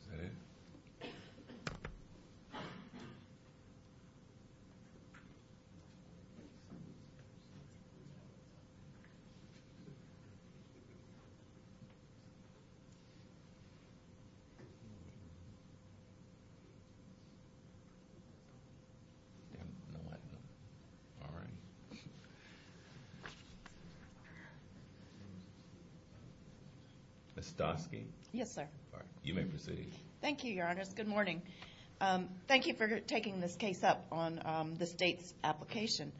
Is that it? All right. Ms. Doskey? Yes, sir. All right. You may proceed. Thank you, Your Honors. Good morning. Thank you for taking this case up on the state's application.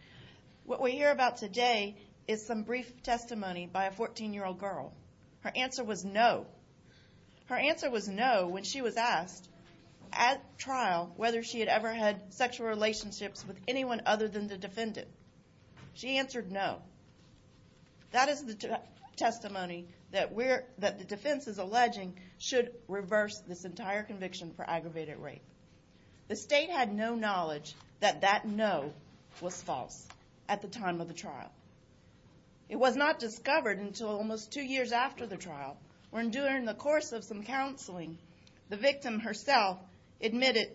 What we hear about today is some brief testimony by a 14-year-old girl. Her answer was no. Her answer was no when she was asked at trial whether she had ever had sexual relationships She said, no. She said, no. She said, no. She said, no. She said, no. She said, no. She said, no. She said, no. She answered no. That is the testimony that the defense is alleging should reverse this entire conviction for aggravated rape. The state had no knowledge that that no was false at the time of the trial. It was not discovered until almost two years after the trial, when during the course of some counseling, the victim herself admitted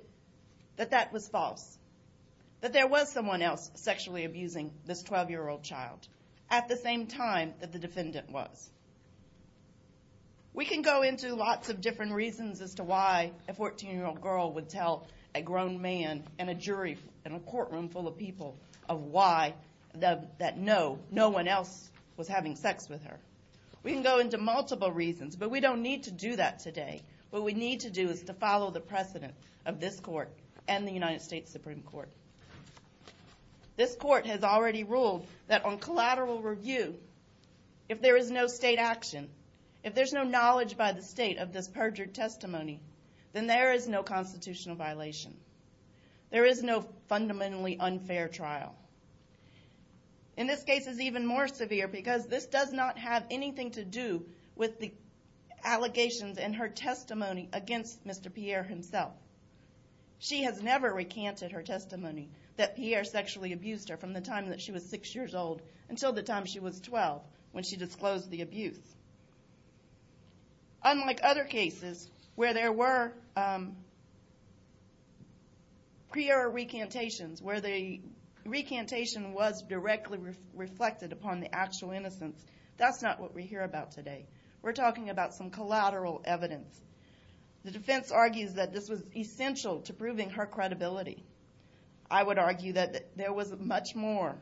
that that was false, that there was someone else sexually abusing this 12-year-old child at the same time that the defendant was. We can go into lots of different reasons as to why a 14-year-old girl would tell a grown man and a jury in a courtroom full of people of why that no, no one else was having sex with her. We can go into multiple reasons, but we don't need to do that today. What we need to do is to follow the precedent of this court and the United States Supreme Court. This court has already ruled that on collateral review, if there is no state action, if there's no knowledge by the state of this perjured testimony, then there is no constitutional violation. There is no fundamentally unfair trial. In this case, it's even more severe because this does not have anything to do with the allegations in her testimony against Mr. Pierre himself. She has never recanted her testimony that Pierre sexually abused her from the time that she was six years old until the time she was 12 when she disclosed the abuse. Unlike other cases where there were prior recantations where the recantation was directly reflected upon the actual innocence, that's not what we hear about today. We're talking about some collateral evidence. The defense argues that this was essential to proving her credibility. I would argue that there was much more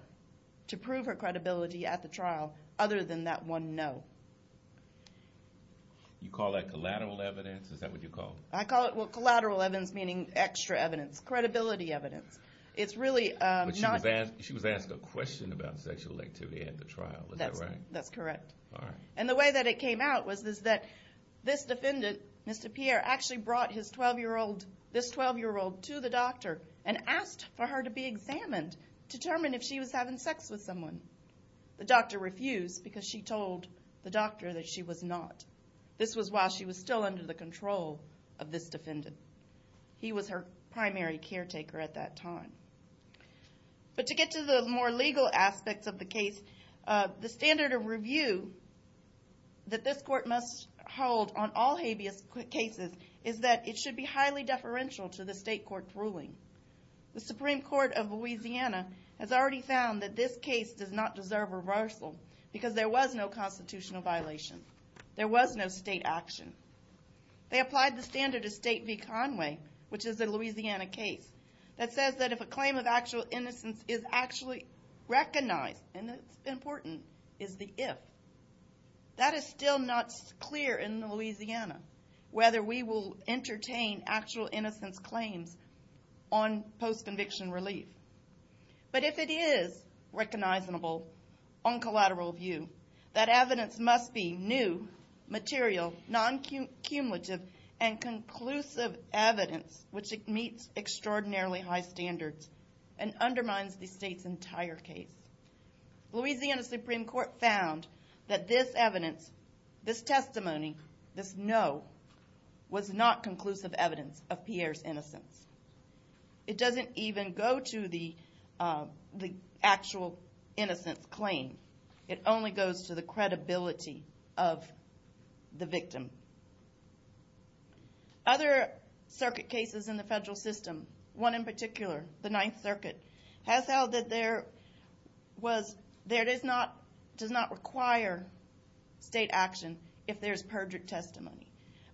to prove her credibility at the trial other than that one no. You call that collateral evidence? Is that what you call it? I call it collateral evidence, meaning extra evidence, credibility evidence. It's really not... But she was asked a question about sexual activity at the trial, is that right? That's correct. All right. And the way that it came out was that this defendant, Mr. Pierre, actually brought this 12-year-old to the doctor and asked for her to be examined to determine if she was having sex with someone. The doctor refused because she told the doctor that she was not. This was while she was still under the control of this defendant. He was her primary caretaker at that time. But to get to the more legal aspects of the case, the standard of review that this court must hold on all habeas cases is that it should be highly deferential to the state court's ruling. The Supreme Court of Louisiana has already found that this case does not deserve reversal because there was no constitutional violation. There was no state action. They applied the standard of State v. Conway, which is a Louisiana case, that says that if a claim of actual innocence is actually recognized and it's important, is the if. That is still not clear in Louisiana, whether we will entertain actual innocence claims on post-conviction relief. But if it is recognizable on collateral view, that evidence must be new, material, non-cumulative, and conclusive evidence which meets extraordinarily high standards and undermines the state's entire case. Louisiana Supreme Court found that this evidence, this testimony, this no, was not conclusive evidence of Pierre's innocence. It doesn't even go to the actual innocence claim. It only goes to the credibility of the victim. Other circuit cases in the federal system, one in particular, the Ninth Circuit, has held that there does not require state action if there's perjured testimony.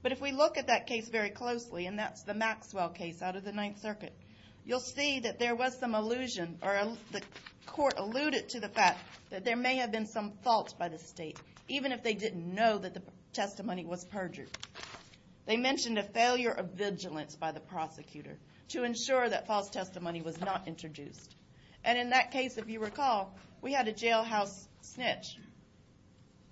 But if we look at that case very closely, and that's the Maxwell case out of the Ninth Circuit, you'll see that there was some allusion or the court alluded to the fact that there may have been some faults by the state, even if they didn't know that the testimony was perjured. They mentioned a failure of vigilance by the prosecutor to ensure that false testimony was not introduced. And in that case, if you recall, we had a jailhouse snitch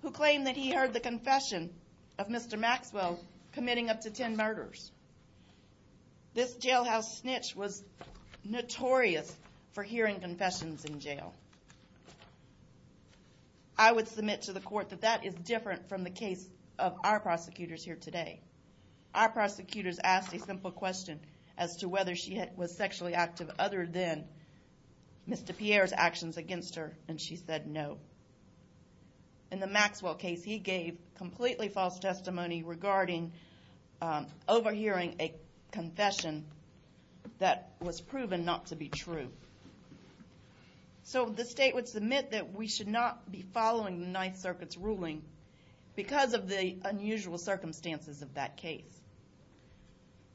who claimed that he heard the confession of Mr. Maxwell committing up to 10 murders. This jailhouse snitch was notorious for hearing confessions in jail. I would submit to the court that that is different from the case of our prosecutors here today. Our prosecutors asked a simple question as to whether she was sexually active other than Mr. Pierre's actions against her, and she said no. In the Maxwell case, he gave completely false testimony regarding overhearing a confession that was proven not to be true. So the state would submit that we should not be following the Ninth Circuit's ruling because of the unusual circumstances of that case.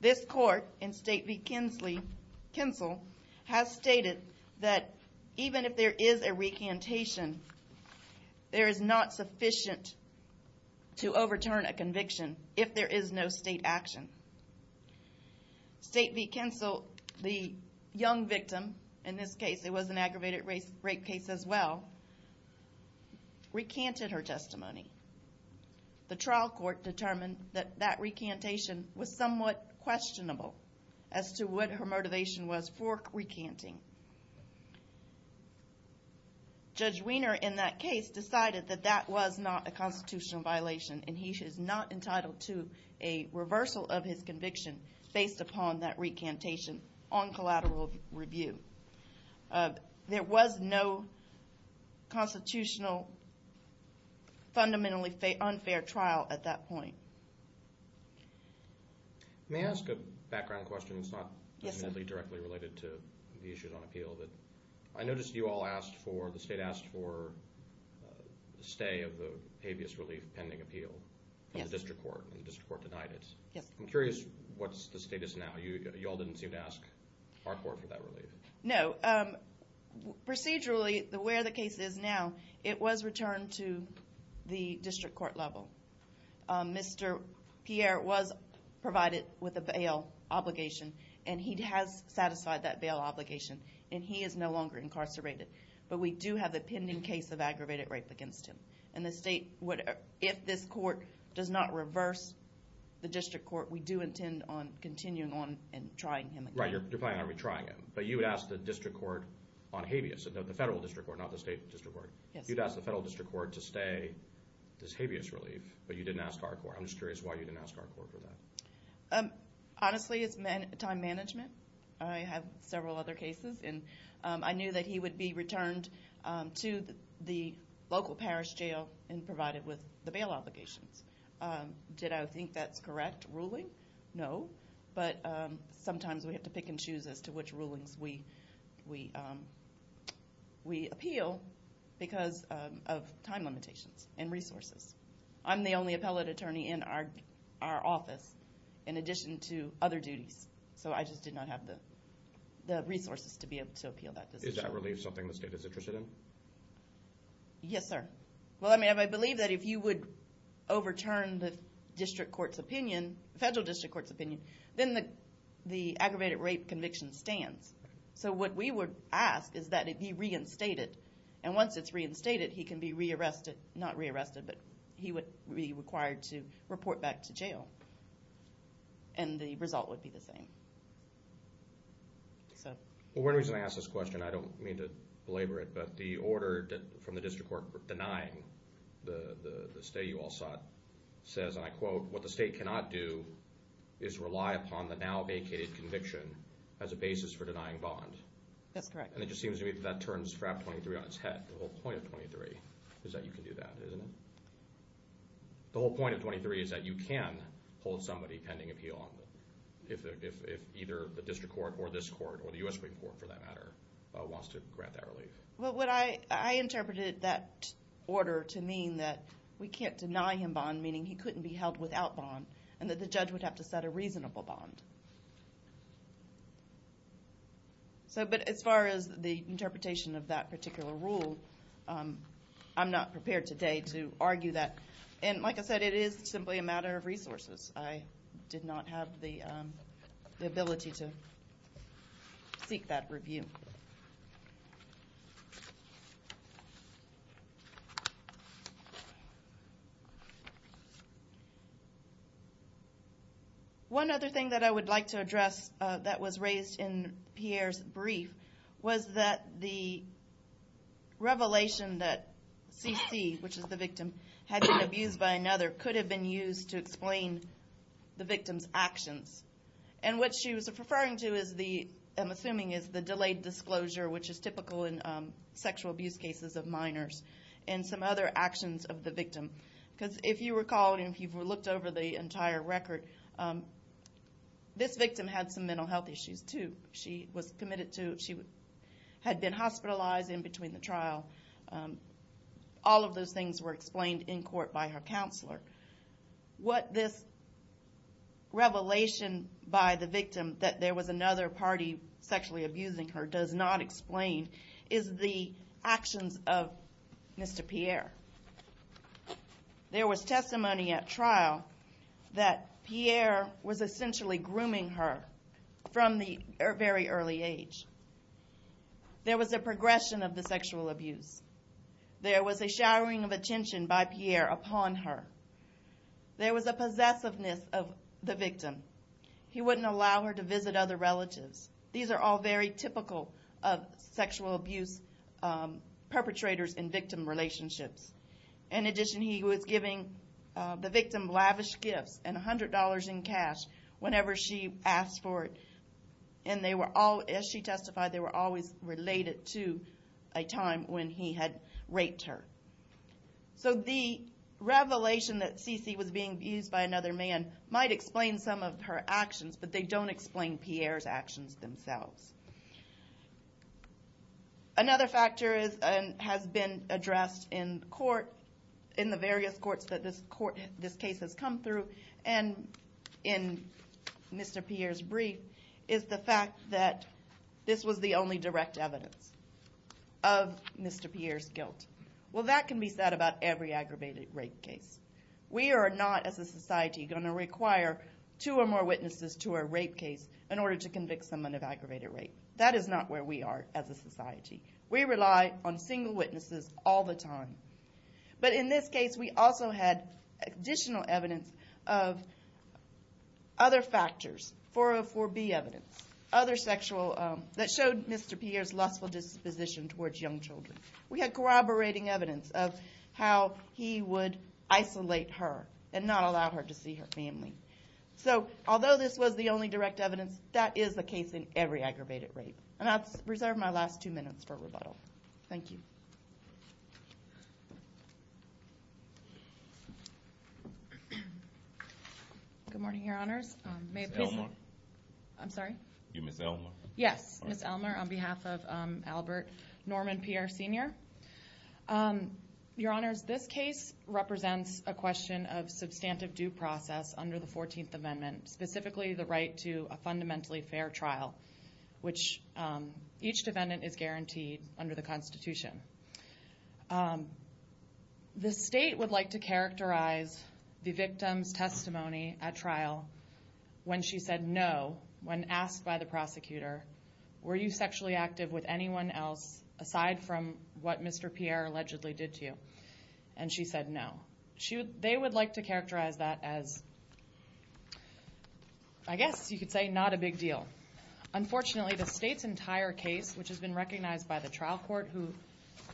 This court in State v. Kinsel has stated that even if there is a recantation, there is not sufficient to overturn a conviction if there is no state action. State v. Kinsel, the young victim, in this case it was an aggravated rape case as well, recanted her testimony. The trial court determined that that recantation was somewhat questionable as to what her motivation was for recanting. Judge Weiner in that case decided that that was not a constitutional violation and he is not entitled to a reversal of his conviction based upon that recantation on collateral review. There was no constitutional fundamentally unfair trial at that point. May I ask a background question? It's not directly related to the issues on appeal. I noticed you all asked for, the state asked for, the stay of the habeas relief pending appeal from the district court, and the district court denied it. I'm curious what the status is now. You all didn't seem to ask our court for that relief. No, procedurally, where the case is now, it was returned to the district court level. Mr. Pierre was provided with a bail obligation and he has satisfied that bail obligation and he is no longer incarcerated. But we do have the pending case of aggravated rape against him. And the state, if this court does not reverse the district court, we do intend on continuing on and trying him again. Right, you're planning on retrying him. But you would ask the district court on habeas, the federal district court, not the state district court. You'd ask the federal district court to stay this habeas relief, but you didn't ask our court. I'm just curious why you didn't ask our court for that. Honestly, it's time management. I have several other cases. I knew that he would be returned to the local parish jail and provided with the bail obligations. Did I think that's correct ruling? No. But sometimes we have to pick and choose as to which rulings we appeal because of time limitations and resources. I'm the only appellate attorney in our office in addition to other duties. So I just did not have the resources to be able to appeal that decision. Is that relief something the state is interested in? Yes, sir. Well, I believe that if you would overturn the district court's opinion, the federal district court's opinion, then the aggravated rape conviction stands. So what we would ask is that it be reinstated. And once it's reinstated, he can be re-arrested, not re-arrested, but he would be required to report back to jail. And the result would be the same. One reason I ask this question, I don't mean to belabor it, but the order from the district court denying the stay you all sought says, and I quote, what the state cannot do is rely upon the now vacated conviction as a basis for denying bond. That's correct. And it just seems to me that that turns FRAP 23 on its head. The whole point of 23 is that you can do that, isn't it? The whole point of 23 is that you can hold somebody pending appeal if either the district court or this court, or the U.S. Supreme Court for that matter, wants to grant that relief. Well, I interpreted that order to mean that we can't deny him bond, meaning he couldn't be held without bond, and that the judge would have to set a reasonable bond. But as far as the interpretation of that particular rule, I'm not prepared today to argue that. And like I said, it is simply a matter of resources. I did not have the ability to seek that review. One other thing that I would like to address that was raised in Pierre's brief was that the revelation that CC, which is the victim, had been abused by another could have been used to explain the victim's actions. And what she was referring to is the, I'm assuming, is the delayed disclosure, which is typical in sexual abuse cases of minors, and some other actions of the victim. Because if you recall, and if you've looked over the entire record, this victim had some mental health issues, too. She was committed to, she had been hospitalized in between the trial. All of those things were explained in court by her counselor. What this revelation by the victim, that there was another party sexually abusing her, does not explain is the actions of Mr. Pierre. There was testimony at trial that Pierre was essentially grooming her from the very early age. There was a progression of the sexual abuse. There was a showering of attention by Pierre upon her. There was a possessiveness of the victim. He wouldn't allow her to visit other relatives. These are all very typical of sexual abuse perpetrators and victim relationships. In addition, he was giving the victim lavish gifts and $100 in cash whenever she asked for it. And they were all, as she testified, they were always related to a time when he had raped her. So the revelation that Cici was being abused by another man might explain some of her actions, but they don't explain Pierre's actions themselves. Another factor has been addressed in court, in the various courts that this case has come through, and in Mr. Pierre's brief, is the fact that this was the only direct evidence of Mr. Pierre's guilt. Well, that can be said about every aggravated rape case. We are not, as a society, going to require two or more witnesses to a rape case in order to convict someone of aggravated rape. That is not where we are as a society. We rely on single witnesses all the time. But in this case, we also had additional evidence of other factors, 404B evidence, other sexual, that showed Mr. Pierre's lustful disposition towards young children. We had corroborating evidence of how he would isolate her and not allow her to see her family. So, although this was the only direct evidence, that is the case in every aggravated rape. And I'll reserve my last two minutes for rebuttal. Thank you. Good morning, Your Honors. Ms. Elmer. I'm sorry? You're Ms. Elmer. Yes, Ms. Elmer, on behalf of Albert Norman Pierre, Sr. Your Honors, this case represents a question of substantive due process under the 14th Amendment, specifically the right to a fundamentally fair trial, which each defendant is guaranteed under the Constitution. The state would like to characterize the victim's testimony at trial when she said no, when asked by the prosecutor, were you sexually active with anyone else aside from what Mr. Pierre allegedly did to you? And she said no. They would like to characterize that as, I guess you could say, not a big deal. Unfortunately, the state's entire case, which has been recognized by the trial court who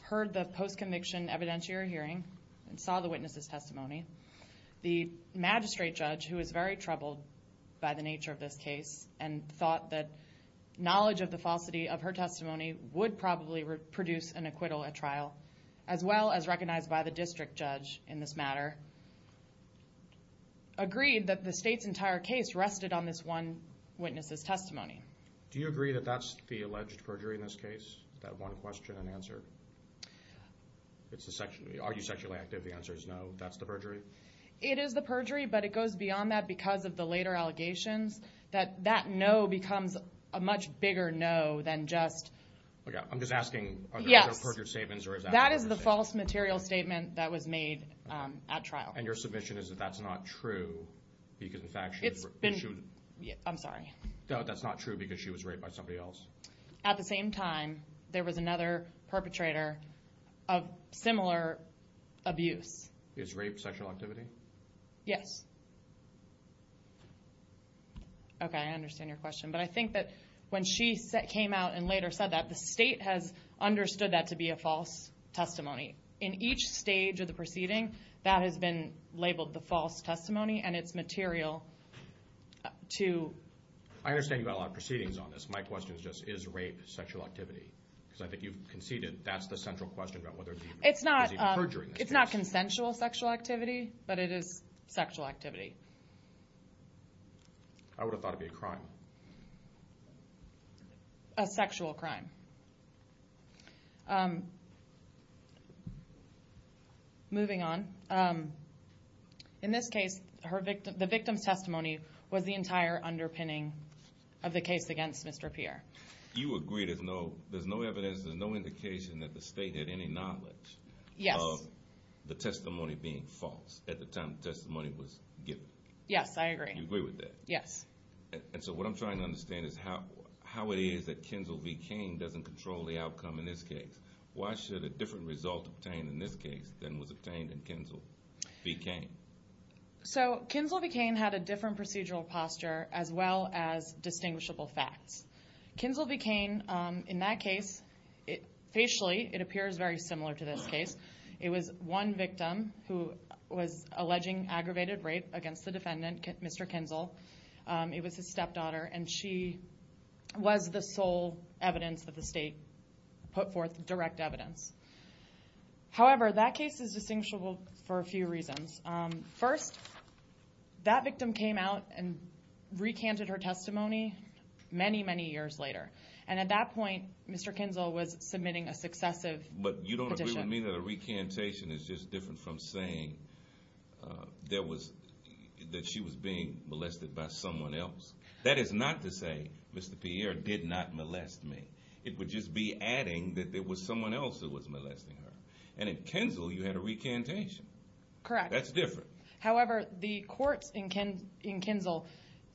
heard the post-conviction evidentiary hearing and saw the witness's testimony, the magistrate judge, who was very troubled by the nature of this case and thought that knowledge of the falsity of her testimony would probably produce an acquittal at trial, as well as recognized by the district judge in this matter, agreed that the state's entire case rested on this one witness's testimony. Do you agree that that's the alleged perjury in this case, that one question and answer? Are you sexually active? The answer is no. That's the perjury? It is the perjury, but it goes beyond that because of the later allegations that that no becomes a much bigger no than just... That is the false material statement that was made at trial. And your submission is that that's not true because, in fact... It's been... I'm sorry. That's not true because she was raped by somebody else? At the same time, there was another perpetrator of similar abuse. Is rape sexual activity? Yes. Okay, I understand your question. But I think that when she came out and later said that, the state has understood that to be a false testimony. In each stage of the proceeding, that has been labeled the false testimony, and it's material to... I understand you've got a lot of proceedings on this. My question is just, is rape sexual activity? Because I think you've conceded that's the central question about whether it was even perjury in this case. It's not consensual sexual activity, but it is sexual activity. I would have thought it'd be a crime. A sexual crime. Moving on. In this case, the victim's testimony was the entire underpinning of the case against Mr. Pierre. You agree there's no evidence, there's no indication that the state had any knowledge of the testimony being false at the time the testimony was given? Yes, I agree. You agree with that? Yes. And so what I'm trying to understand is how it is that Kinzel v. Cain doesn't control the outcome in this case. Why should a different result be obtained in this case than was obtained in Kinzel v. Cain? So Kinzel v. Cain had a different procedural posture as well as distinguishable facts. Kinzel v. Cain, in that case, facially it appears very similar to this case. It was one victim who was alleging aggravated rape against the defendant, Mr. Kinzel. It was his stepdaughter, and she was the sole evidence that the state put forth, direct evidence. However, that case is distinguishable for a few reasons. First, that victim came out and recanted her testimony many, many years later. And at that point, Mr. Kinzel was submitting a successive petition. But you don't agree with me that a recantation is just different from saying that she was being molested by someone else. That is not to say Mr. Pierre did not molest me. It would just be adding that there was someone else who was molesting her. And in Kinzel, you had a recantation. Correct. That's different. However, the courts in Kinzel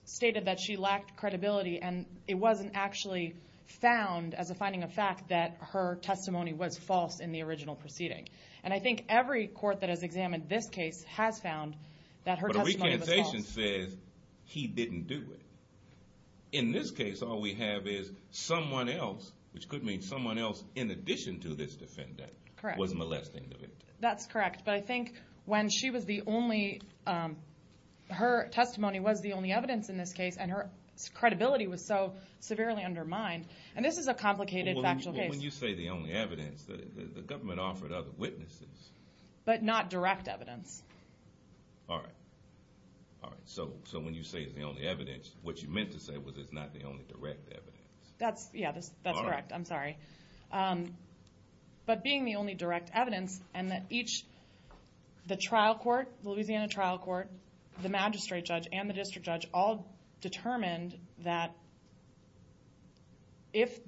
stated that she lacked credibility, and it wasn't actually found as a finding of fact that her testimony was false in the original proceeding. And I think every court that has examined this case has found that her testimony was false. But a recantation says he didn't do it. In this case, all we have is someone else, which could mean someone else in addition to this defendant, was molesting the victim. That's correct. But I think when she was the only, her testimony was the only evidence in this case, and her credibility was so severely undermined, and this is a complicated factual case. But when you say the only evidence, the government offered other witnesses. But not direct evidence. All right. So when you say it's the only evidence, what you meant to say was it's not the only direct evidence. Yeah, that's correct. I'm sorry. But being the only direct evidence, and that each, the trial court, the Louisiana trial court, the magistrate judge, and the district judge all determined that if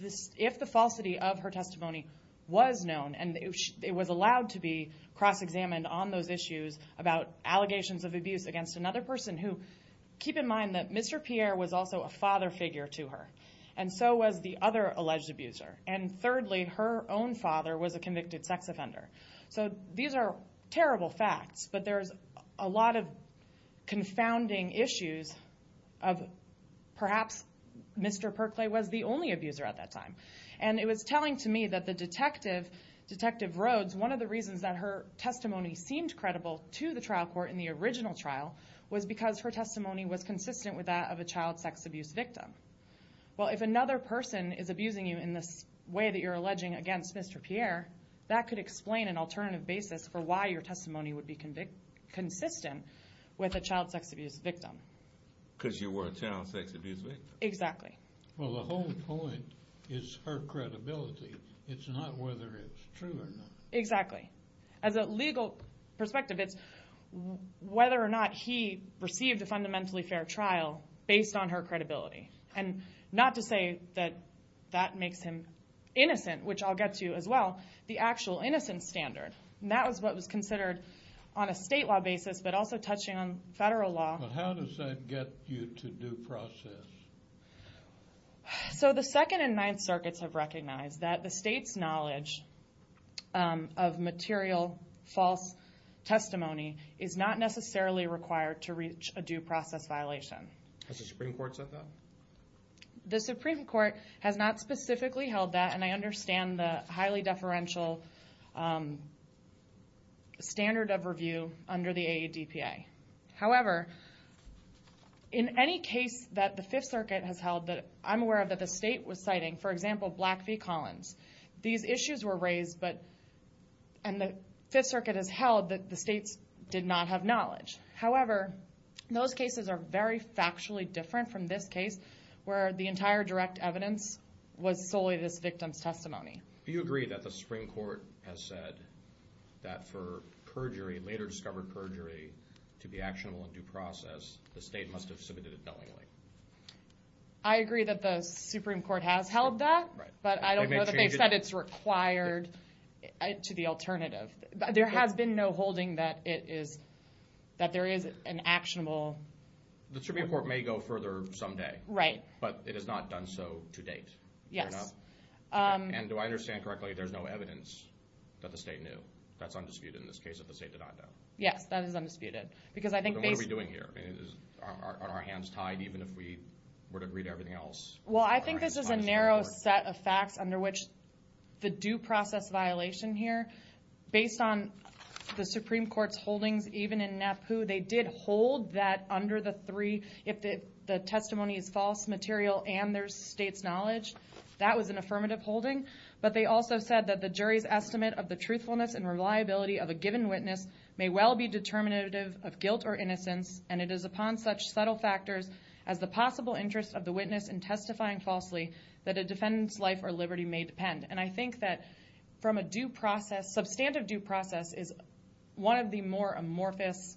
the falsity of her testimony was known, and it was allowed to be cross-examined on those issues about allegations of abuse against another person who, keep in mind that Mr. Pierre was also a father figure to her, and so was the other alleged abuser. And thirdly, her own father was a convicted sex offender. So these are terrible facts, but there's a lot of confounding issues of perhaps Mr. Perclay was the only abuser at that time. And it was telling to me that the detective, Detective Rhodes, one of the reasons that her testimony seemed credible to the trial court in the original trial was because her testimony was consistent with that of a child sex abuse victim. Well, if another person is abusing you in this way that you're alleging against Mr. Pierre, that could explain an alternative basis for why your testimony would be consistent with a child sex abuse victim. Because you were a child sex abuse victim. Exactly. Well, the whole point is her credibility. It's not whether it's true or not. Exactly. As a legal perspective, it's whether or not he received a fundamentally fair trial based on her credibility. And not to say that that makes him innocent, which I'll get to as well, the actual innocence standard. And that was what was considered on a state law basis, but also touching on federal law. How does that get you to due process? So the Second and Ninth Circuits have recognized that the state's knowledge of material false testimony is not necessarily required to reach a due process violation. Has the Supreme Court said that? The Supreme Court has not specifically held that, and I understand the highly deferential standard of review under the AADPA. However, in any case that the Fifth Circuit has held that I'm aware of that the state was citing, for example, Black v. Collins, these issues were raised, and the Fifth Circuit has held that the states did not have knowledge. However, those cases are very factually different from this case, where the entire direct evidence was solely this victim's testimony. Do you agree that the Supreme Court has said that for perjury, later discovered perjury, to be actionable in due process, the state must have submitted it knowingly? I agree that the Supreme Court has held that, but I don't know that they've said it's required to the alternative. There has been no holding that there is an actionable... The Supreme Court may go further someday, but it has not done so to date. Do I understand correctly there's no evidence that the state knew? That's undisputed in this case that the state did not know. Yes, that is undisputed. What are we doing here? Are our hands tied even if we were to agree to everything else? I think this is a narrow set of facts under which the due process violation here, based on the Supreme Court's holdings even in NAPU, they did hold that under the three, if the testimony is false material and there's state's knowledge, that was an affirmative holding, but they also said that the jury's estimate of the truthfulness and reliability of a given witness may well be determinative of guilt or innocence, and it is upon such subtle factors as the possible interest of the witness in testifying falsely that a defendant's life or liberty may depend. And I think that from a due process, substantive due process is one of the more amorphous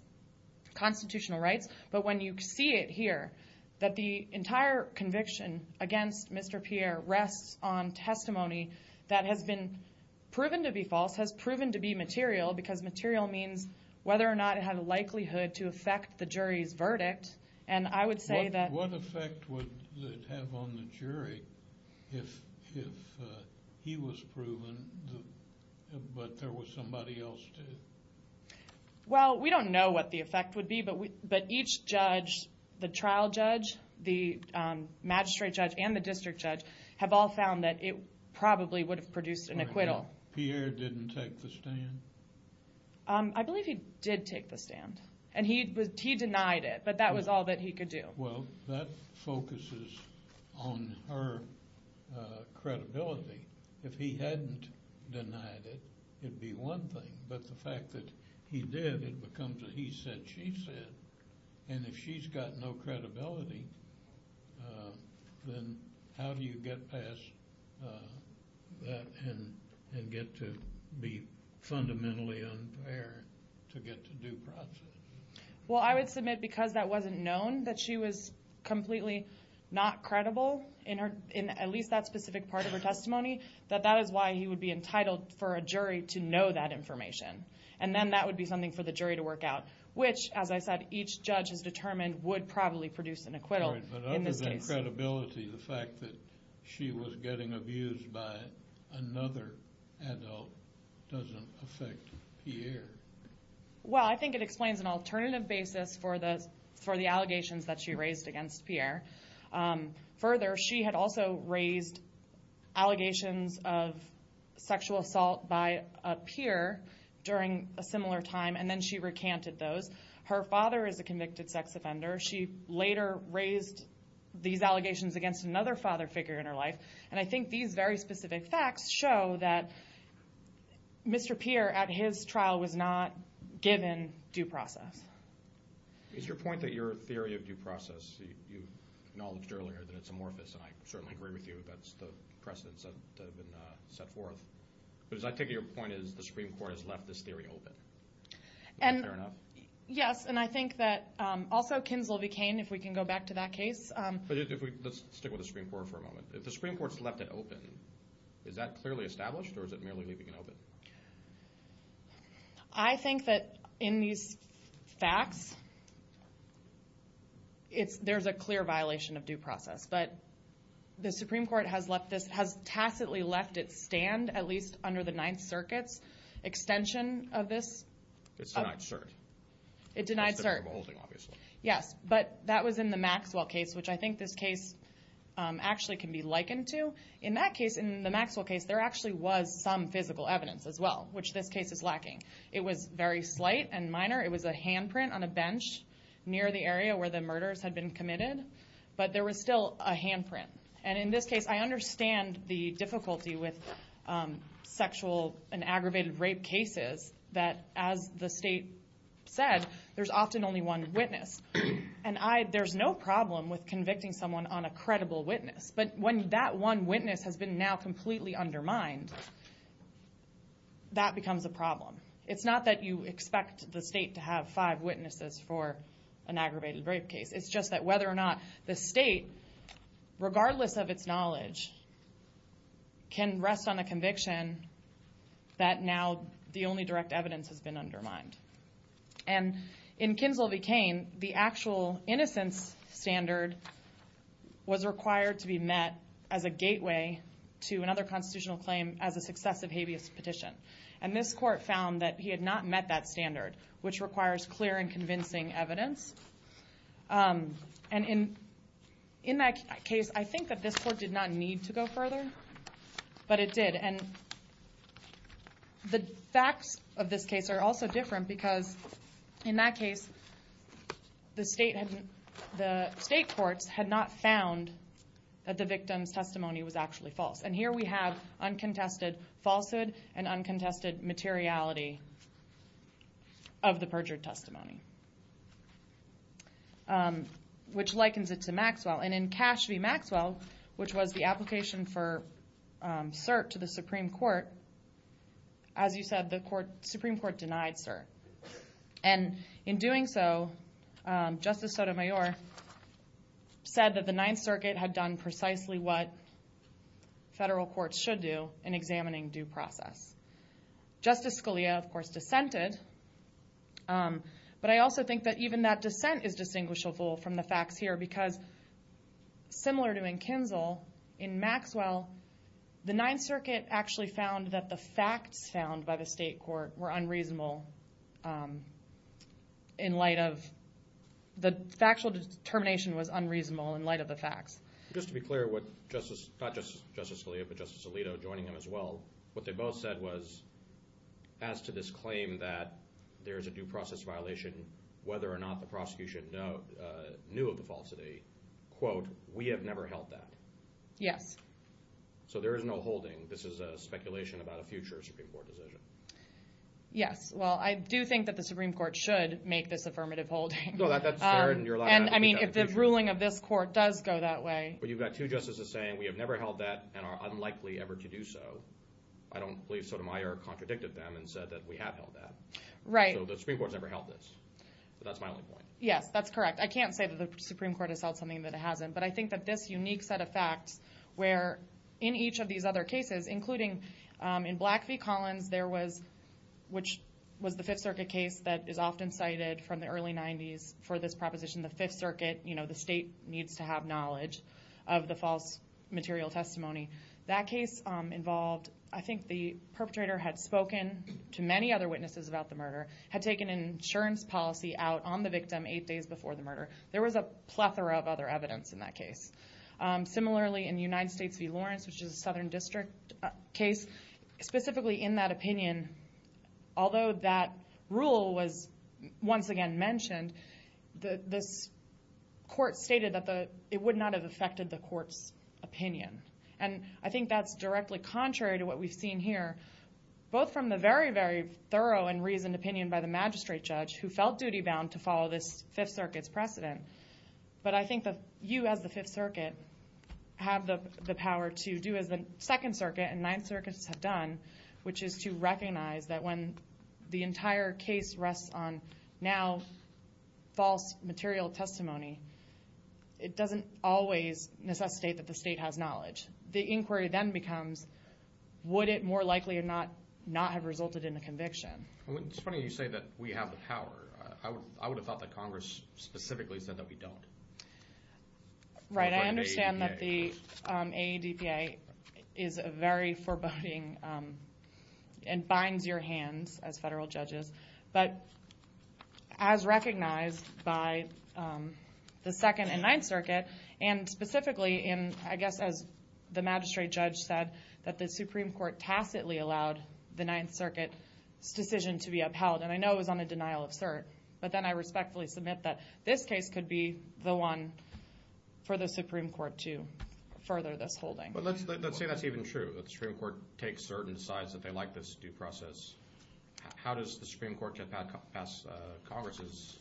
constitutional rights, but when you see it here, that the entire conviction against Mr. Pierre rests on testimony that has been proven to be false, has proven to be material, because material means whether or not it had a likelihood to affect the jury's verdict, and I would say that... What effect would it have on the jury if he was proven, but there was somebody else too? Well, we don't know what the effect would be, but each judge, the trial judge, the magistrate judge, and the district judge have all found that it probably would have produced an acquittal. Pierre didn't take the stand? I believe he did take the stand, and he denied it, but that was all that he could do. Well, that focuses on her credibility. If he hadn't denied it, it'd be one thing, but the fact that he did, it becomes a he said, she said, and if she's got no credibility, then how do you get past that and get to be fundamentally unfair to get to due process? Well, I would submit because that wasn't known, that she was completely not credible in at least that specific part of her testimony, that that is why he would be entitled for a jury to know that information, and then that would be something for the jury to work out, which, as I said, each judge has determined would probably produce an acquittal in this case. But other than credibility, the fact that she was getting abused by another adult doesn't affect Pierre. Well, I think it explains an alternative basis for the allegations that she raised against Pierre. Further, she had also raised allegations of sexual assault by Pierre during a similar time, and then she recanted those. Her father is a convicted sex offender. She later raised these allegations against another father figure in her life, and I think these very specific facts show that Mr. Pierre, at his trial, was not given due process. It's your point that your theory of due process, you acknowledged earlier that it's amorphous, and I certainly agree with you. That's the precedents that have been set forth. But as I take it, your point is the Supreme Court has left this theory open. Is that fair enough? Yes, and I think that also Kinslow became, if we can go back to that case. Let's stick with the Supreme Court for a moment. If the Supreme Court's left it open, is that clearly established, or is it merely leaving it open? I think that in these facts, there's a clear violation of due process. But the Supreme Court has tacitly left it stand, at least under the Ninth Circuit's extension of this. It's denied cert. It denied cert. Except for beholding, obviously. Yes, but that was in the Maxwell case, which I think this case actually can be likened to. In that case, in the Maxwell case, there actually was some physical evidence as well, which this case is lacking. It was very slight and minor. It was a handprint on a bench near the area where the murders had been committed. But there was still a handprint. And in this case, I understand the difficulty with sexual and aggravated rape cases, that as the state said, there's often only one witness. And there's no problem with convicting someone on a credible witness. But when that one witness has been now completely undermined, that becomes a problem. It's not that you expect the state to have five witnesses for an aggravated rape case. It's just that whether or not the state, regardless of its knowledge, can rest on a conviction that now the only direct evidence has been undermined. And in Kinzel v. Cain, the actual innocence standard was required to be met as a gateway to another constitutional claim as a successive habeas petition. And this court found that he had not met that standard, which requires clear and convincing evidence. And in that case, I think that this court did not need to go further, but it did. And the facts of this case are also different because in that case, the state courts had not found that the victim's testimony was actually false. And here we have uncontested falsehood and uncontested materiality of the perjured testimony, which likens it to Maxwell. And in Cash v. Maxwell, which was the application for cert to the Supreme Court, as you said, the Supreme Court denied cert. And in doing so, Justice Sotomayor said that the Ninth Circuit had done precisely what federal courts should do in examining due process. Justice Scalia, of course, dissented. But I also think that even that dissent is distinguishable from the facts here because similar to in Kinzel, in Maxwell, the Ninth Circuit actually found that the facts found by the state court were unreasonable in light of the factual determination was unreasonable in light of the facts. Just to be clear, not just Justice Scalia but Justice Alito joining him as well, what they both said was as to this claim that there is a due process violation, whether or not the prosecution knew of the falsity, quote, we have never held that. Yes. So there is no holding. This is a speculation about a future Supreme Court decision. Yes. Well, I do think that the Supreme Court should make this affirmative holding. No, that's fair, and you're allowed to do that in the future. I mean, if the ruling of this court does go that way. But you've got two justices saying we have never held that and are unlikely ever to do so. I don't believe Sotomayor contradicted them and said that we have held that. Right. So the Supreme Court has never held this. But that's my only point. Yes, that's correct. I can't say that the Supreme Court has held something that it hasn't. But I think that this unique set of facts where in each of these other cases, including in Black v. Collins, which was the Fifth Circuit case that is often cited from the early 90s for this proposition, the Fifth Circuit, you know, the state needs to have knowledge of the false material testimony. That case involved, I think the perpetrator had spoken to many other witnesses about the murder, had taken an insurance policy out on the victim eight days before the murder. There was a plethora of other evidence in that case. Similarly, in United States v. Lawrence, which is a Southern District case, specifically in that opinion, although that rule was once again mentioned, this court stated that it would not have affected the court's opinion. And I think that's directly contrary to what we've seen here, both from the very, very thorough and reasoned opinion by the magistrate judge who felt duty-bound to follow this Fifth Circuit's precedent. But I think that you as the Fifth Circuit have the power to do as the Second Circuit and Ninth Circuit has done, which is to recognize that when the entire case rests on now false material testimony, it doesn't always necessitate that the state has knowledge. The inquiry then becomes would it more likely not have resulted in a conviction. It's funny you say that we have the power. I would have thought that Congress specifically said that we don't. Right. I understand that the AADPA is a very foreboding and binds your hands as federal judges. But as recognized by the Second and Ninth Circuit and specifically in, I guess, as the magistrate judge said, that the Supreme Court tacitly allowed the Ninth Circuit's decision to be upheld. And I know it was on a denial of cert. But then I respectfully submit that this case could be the one for the Supreme Court to further this holding. But let's say that's even true, that the Supreme Court takes cert and decides that they like this due process. How does the Supreme Court get past Congress's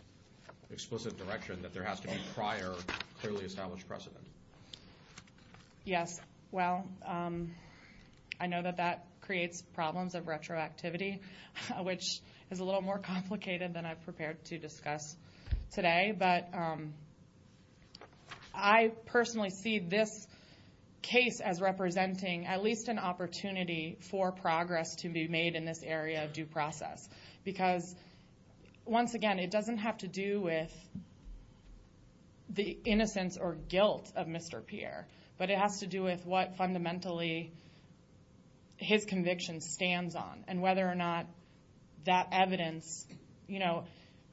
explicit direction that there has to be prior clearly established precedent? Yes. Well, I know that that creates problems of retroactivity, which is a little more complicated than I've prepared to discuss today. But I personally see this case as representing at least an opportunity for progress to be made in this area of due process. Because, once again, it doesn't have to do with the innocence or guilt of Mr. Pierre, but it has to do with what fundamentally his conviction stands on and whether or not that evidence, you know.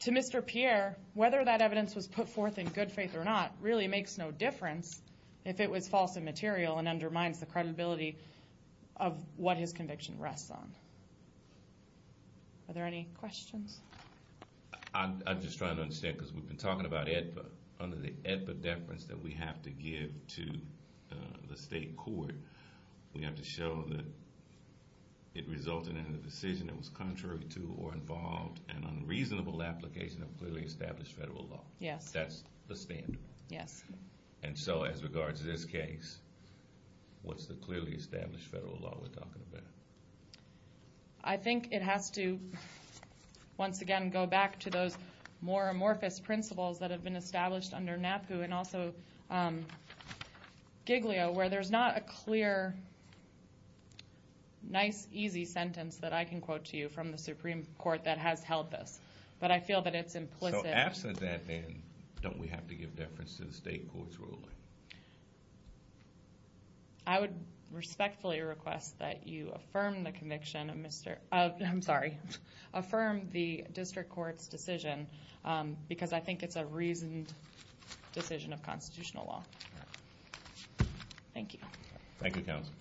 To Mr. Pierre, whether that evidence was put forth in good faith or not really makes no difference if it was false and material and undermines the credibility of what his conviction rests on. Are there any questions? I'm just trying to understand because we've been talking about AEDPA. Under the AEDPA deference that we have to give to the state court, we have to show that it resulted in a decision that was contrary to or involved an unreasonable application of clearly established federal law. Yes. That's the standard. Yes. And so as regards to this case, what's the clearly established federal law we're talking about? I think it has to, once again, go back to those more amorphous principles that have been established under NAPU and also Giglio, where there's not a clear, nice, easy sentence that I can quote to you from the Supreme Court that has held this. But I feel that it's implicit. So absent that then, don't we have to give deference to the state court's ruling? I would respectfully request that you affirm the conviction of Mr. I'm sorry, affirm the district court's decision because I think it's a reasoned decision of constitutional law. All right. Thank you. Thank you, counsel.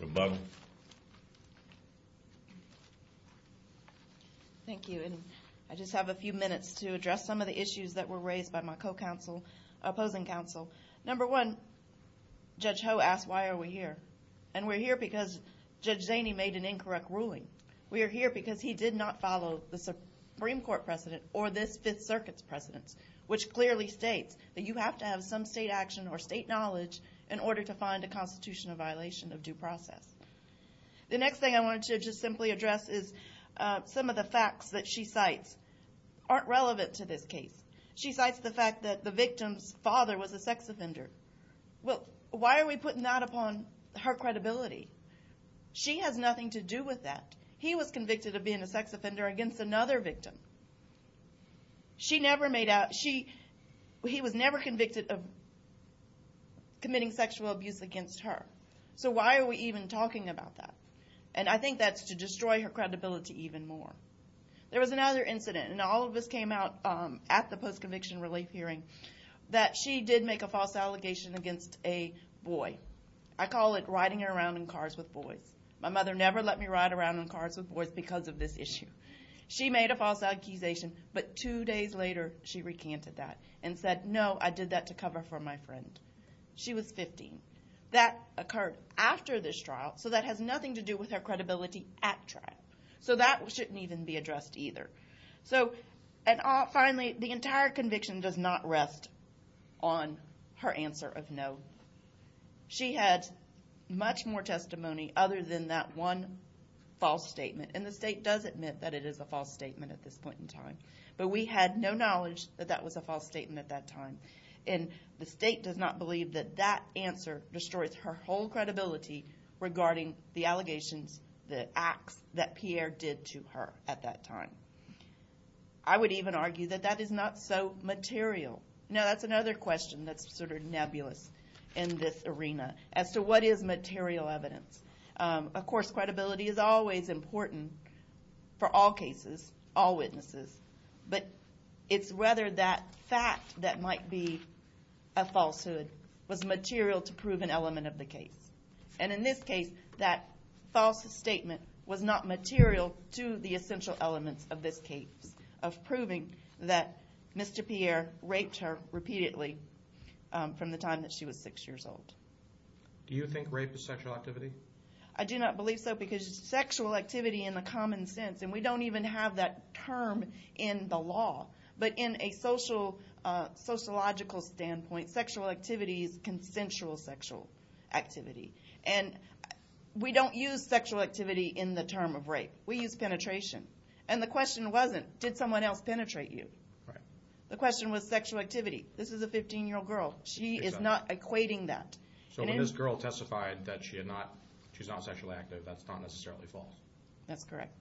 Rebuttal. Thank you. Thank you. And I just have a few minutes to address some of the issues that were raised by my co-counsel, opposing counsel. Number one, Judge Ho asked why are we here. And we're here because Judge Zaney made an incorrect ruling. We are here because he did not follow the Supreme Court precedent or this Fifth Circuit's precedence, which clearly states that you have to have some state action or state knowledge in order to find a constitutional violation of due process. The next thing I wanted to just simply address is some of the facts that she cites aren't relevant to this case. She cites the fact that the victim's father was a sex offender. Well, why are we putting that upon her credibility? She has nothing to do with that. He was convicted of being a sex offender against another victim. She never made out. He was never convicted of committing sexual abuse against her. So why are we even talking about that? And I think that's to destroy her credibility even more. There was another incident, and all of this came out at the post-conviction relief hearing, that she did make a false allegation against a boy. I call it riding around in cars with boys. My mother never let me ride around in cars with boys because of this issue. She made a false accusation, but two days later she recanted that and said, no, I did that to cover for my friend. She was 15. That occurred after this trial, so that has nothing to do with her credibility at trial. So that shouldn't even be addressed either. Finally, the entire conviction does not rest on her answer of no. She had much more testimony other than that one false statement, and the state does admit that it is a false statement at this point in time. But we had no knowledge that that was a false statement at that time, and the state does not believe that that answer destroys her whole credibility regarding the allegations, the acts that Pierre did to her at that time. I would even argue that that is not so material. Now, that's another question that's sort of nebulous in this arena, as to what is material evidence. Of course, credibility is always important for all cases, all witnesses, but it's whether that fact that might be a falsehood was material to prove an element of the case. And in this case, that false statement was not material to the essential elements of this case of proving that Mr. Pierre raped her repeatedly from the time that she was 6 years old. Do you think rape is sexual activity? I do not believe so, because sexual activity in the common sense, and we don't even have that term in the law, but in a sociological standpoint, sexual activity is consensual sexual activity. And we don't use sexual activity in the term of rape. We use penetration. And the question wasn't, did someone else penetrate you? The question was sexual activity. This is a 15-year-old girl. She is not equating that. So when this girl testified that she's not sexually active, that's not necessarily false? That's correct.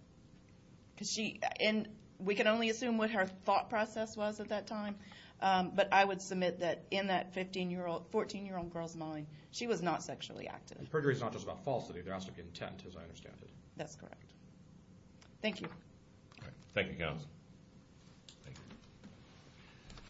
And we can only assume what her thought process was at that time, but I would submit that in that 14-year-old girl's mind, she was not sexually active. And perjury is not just about falsity. There has to be intent, as I understand it. That's correct. Thank you. Thank you, counsel.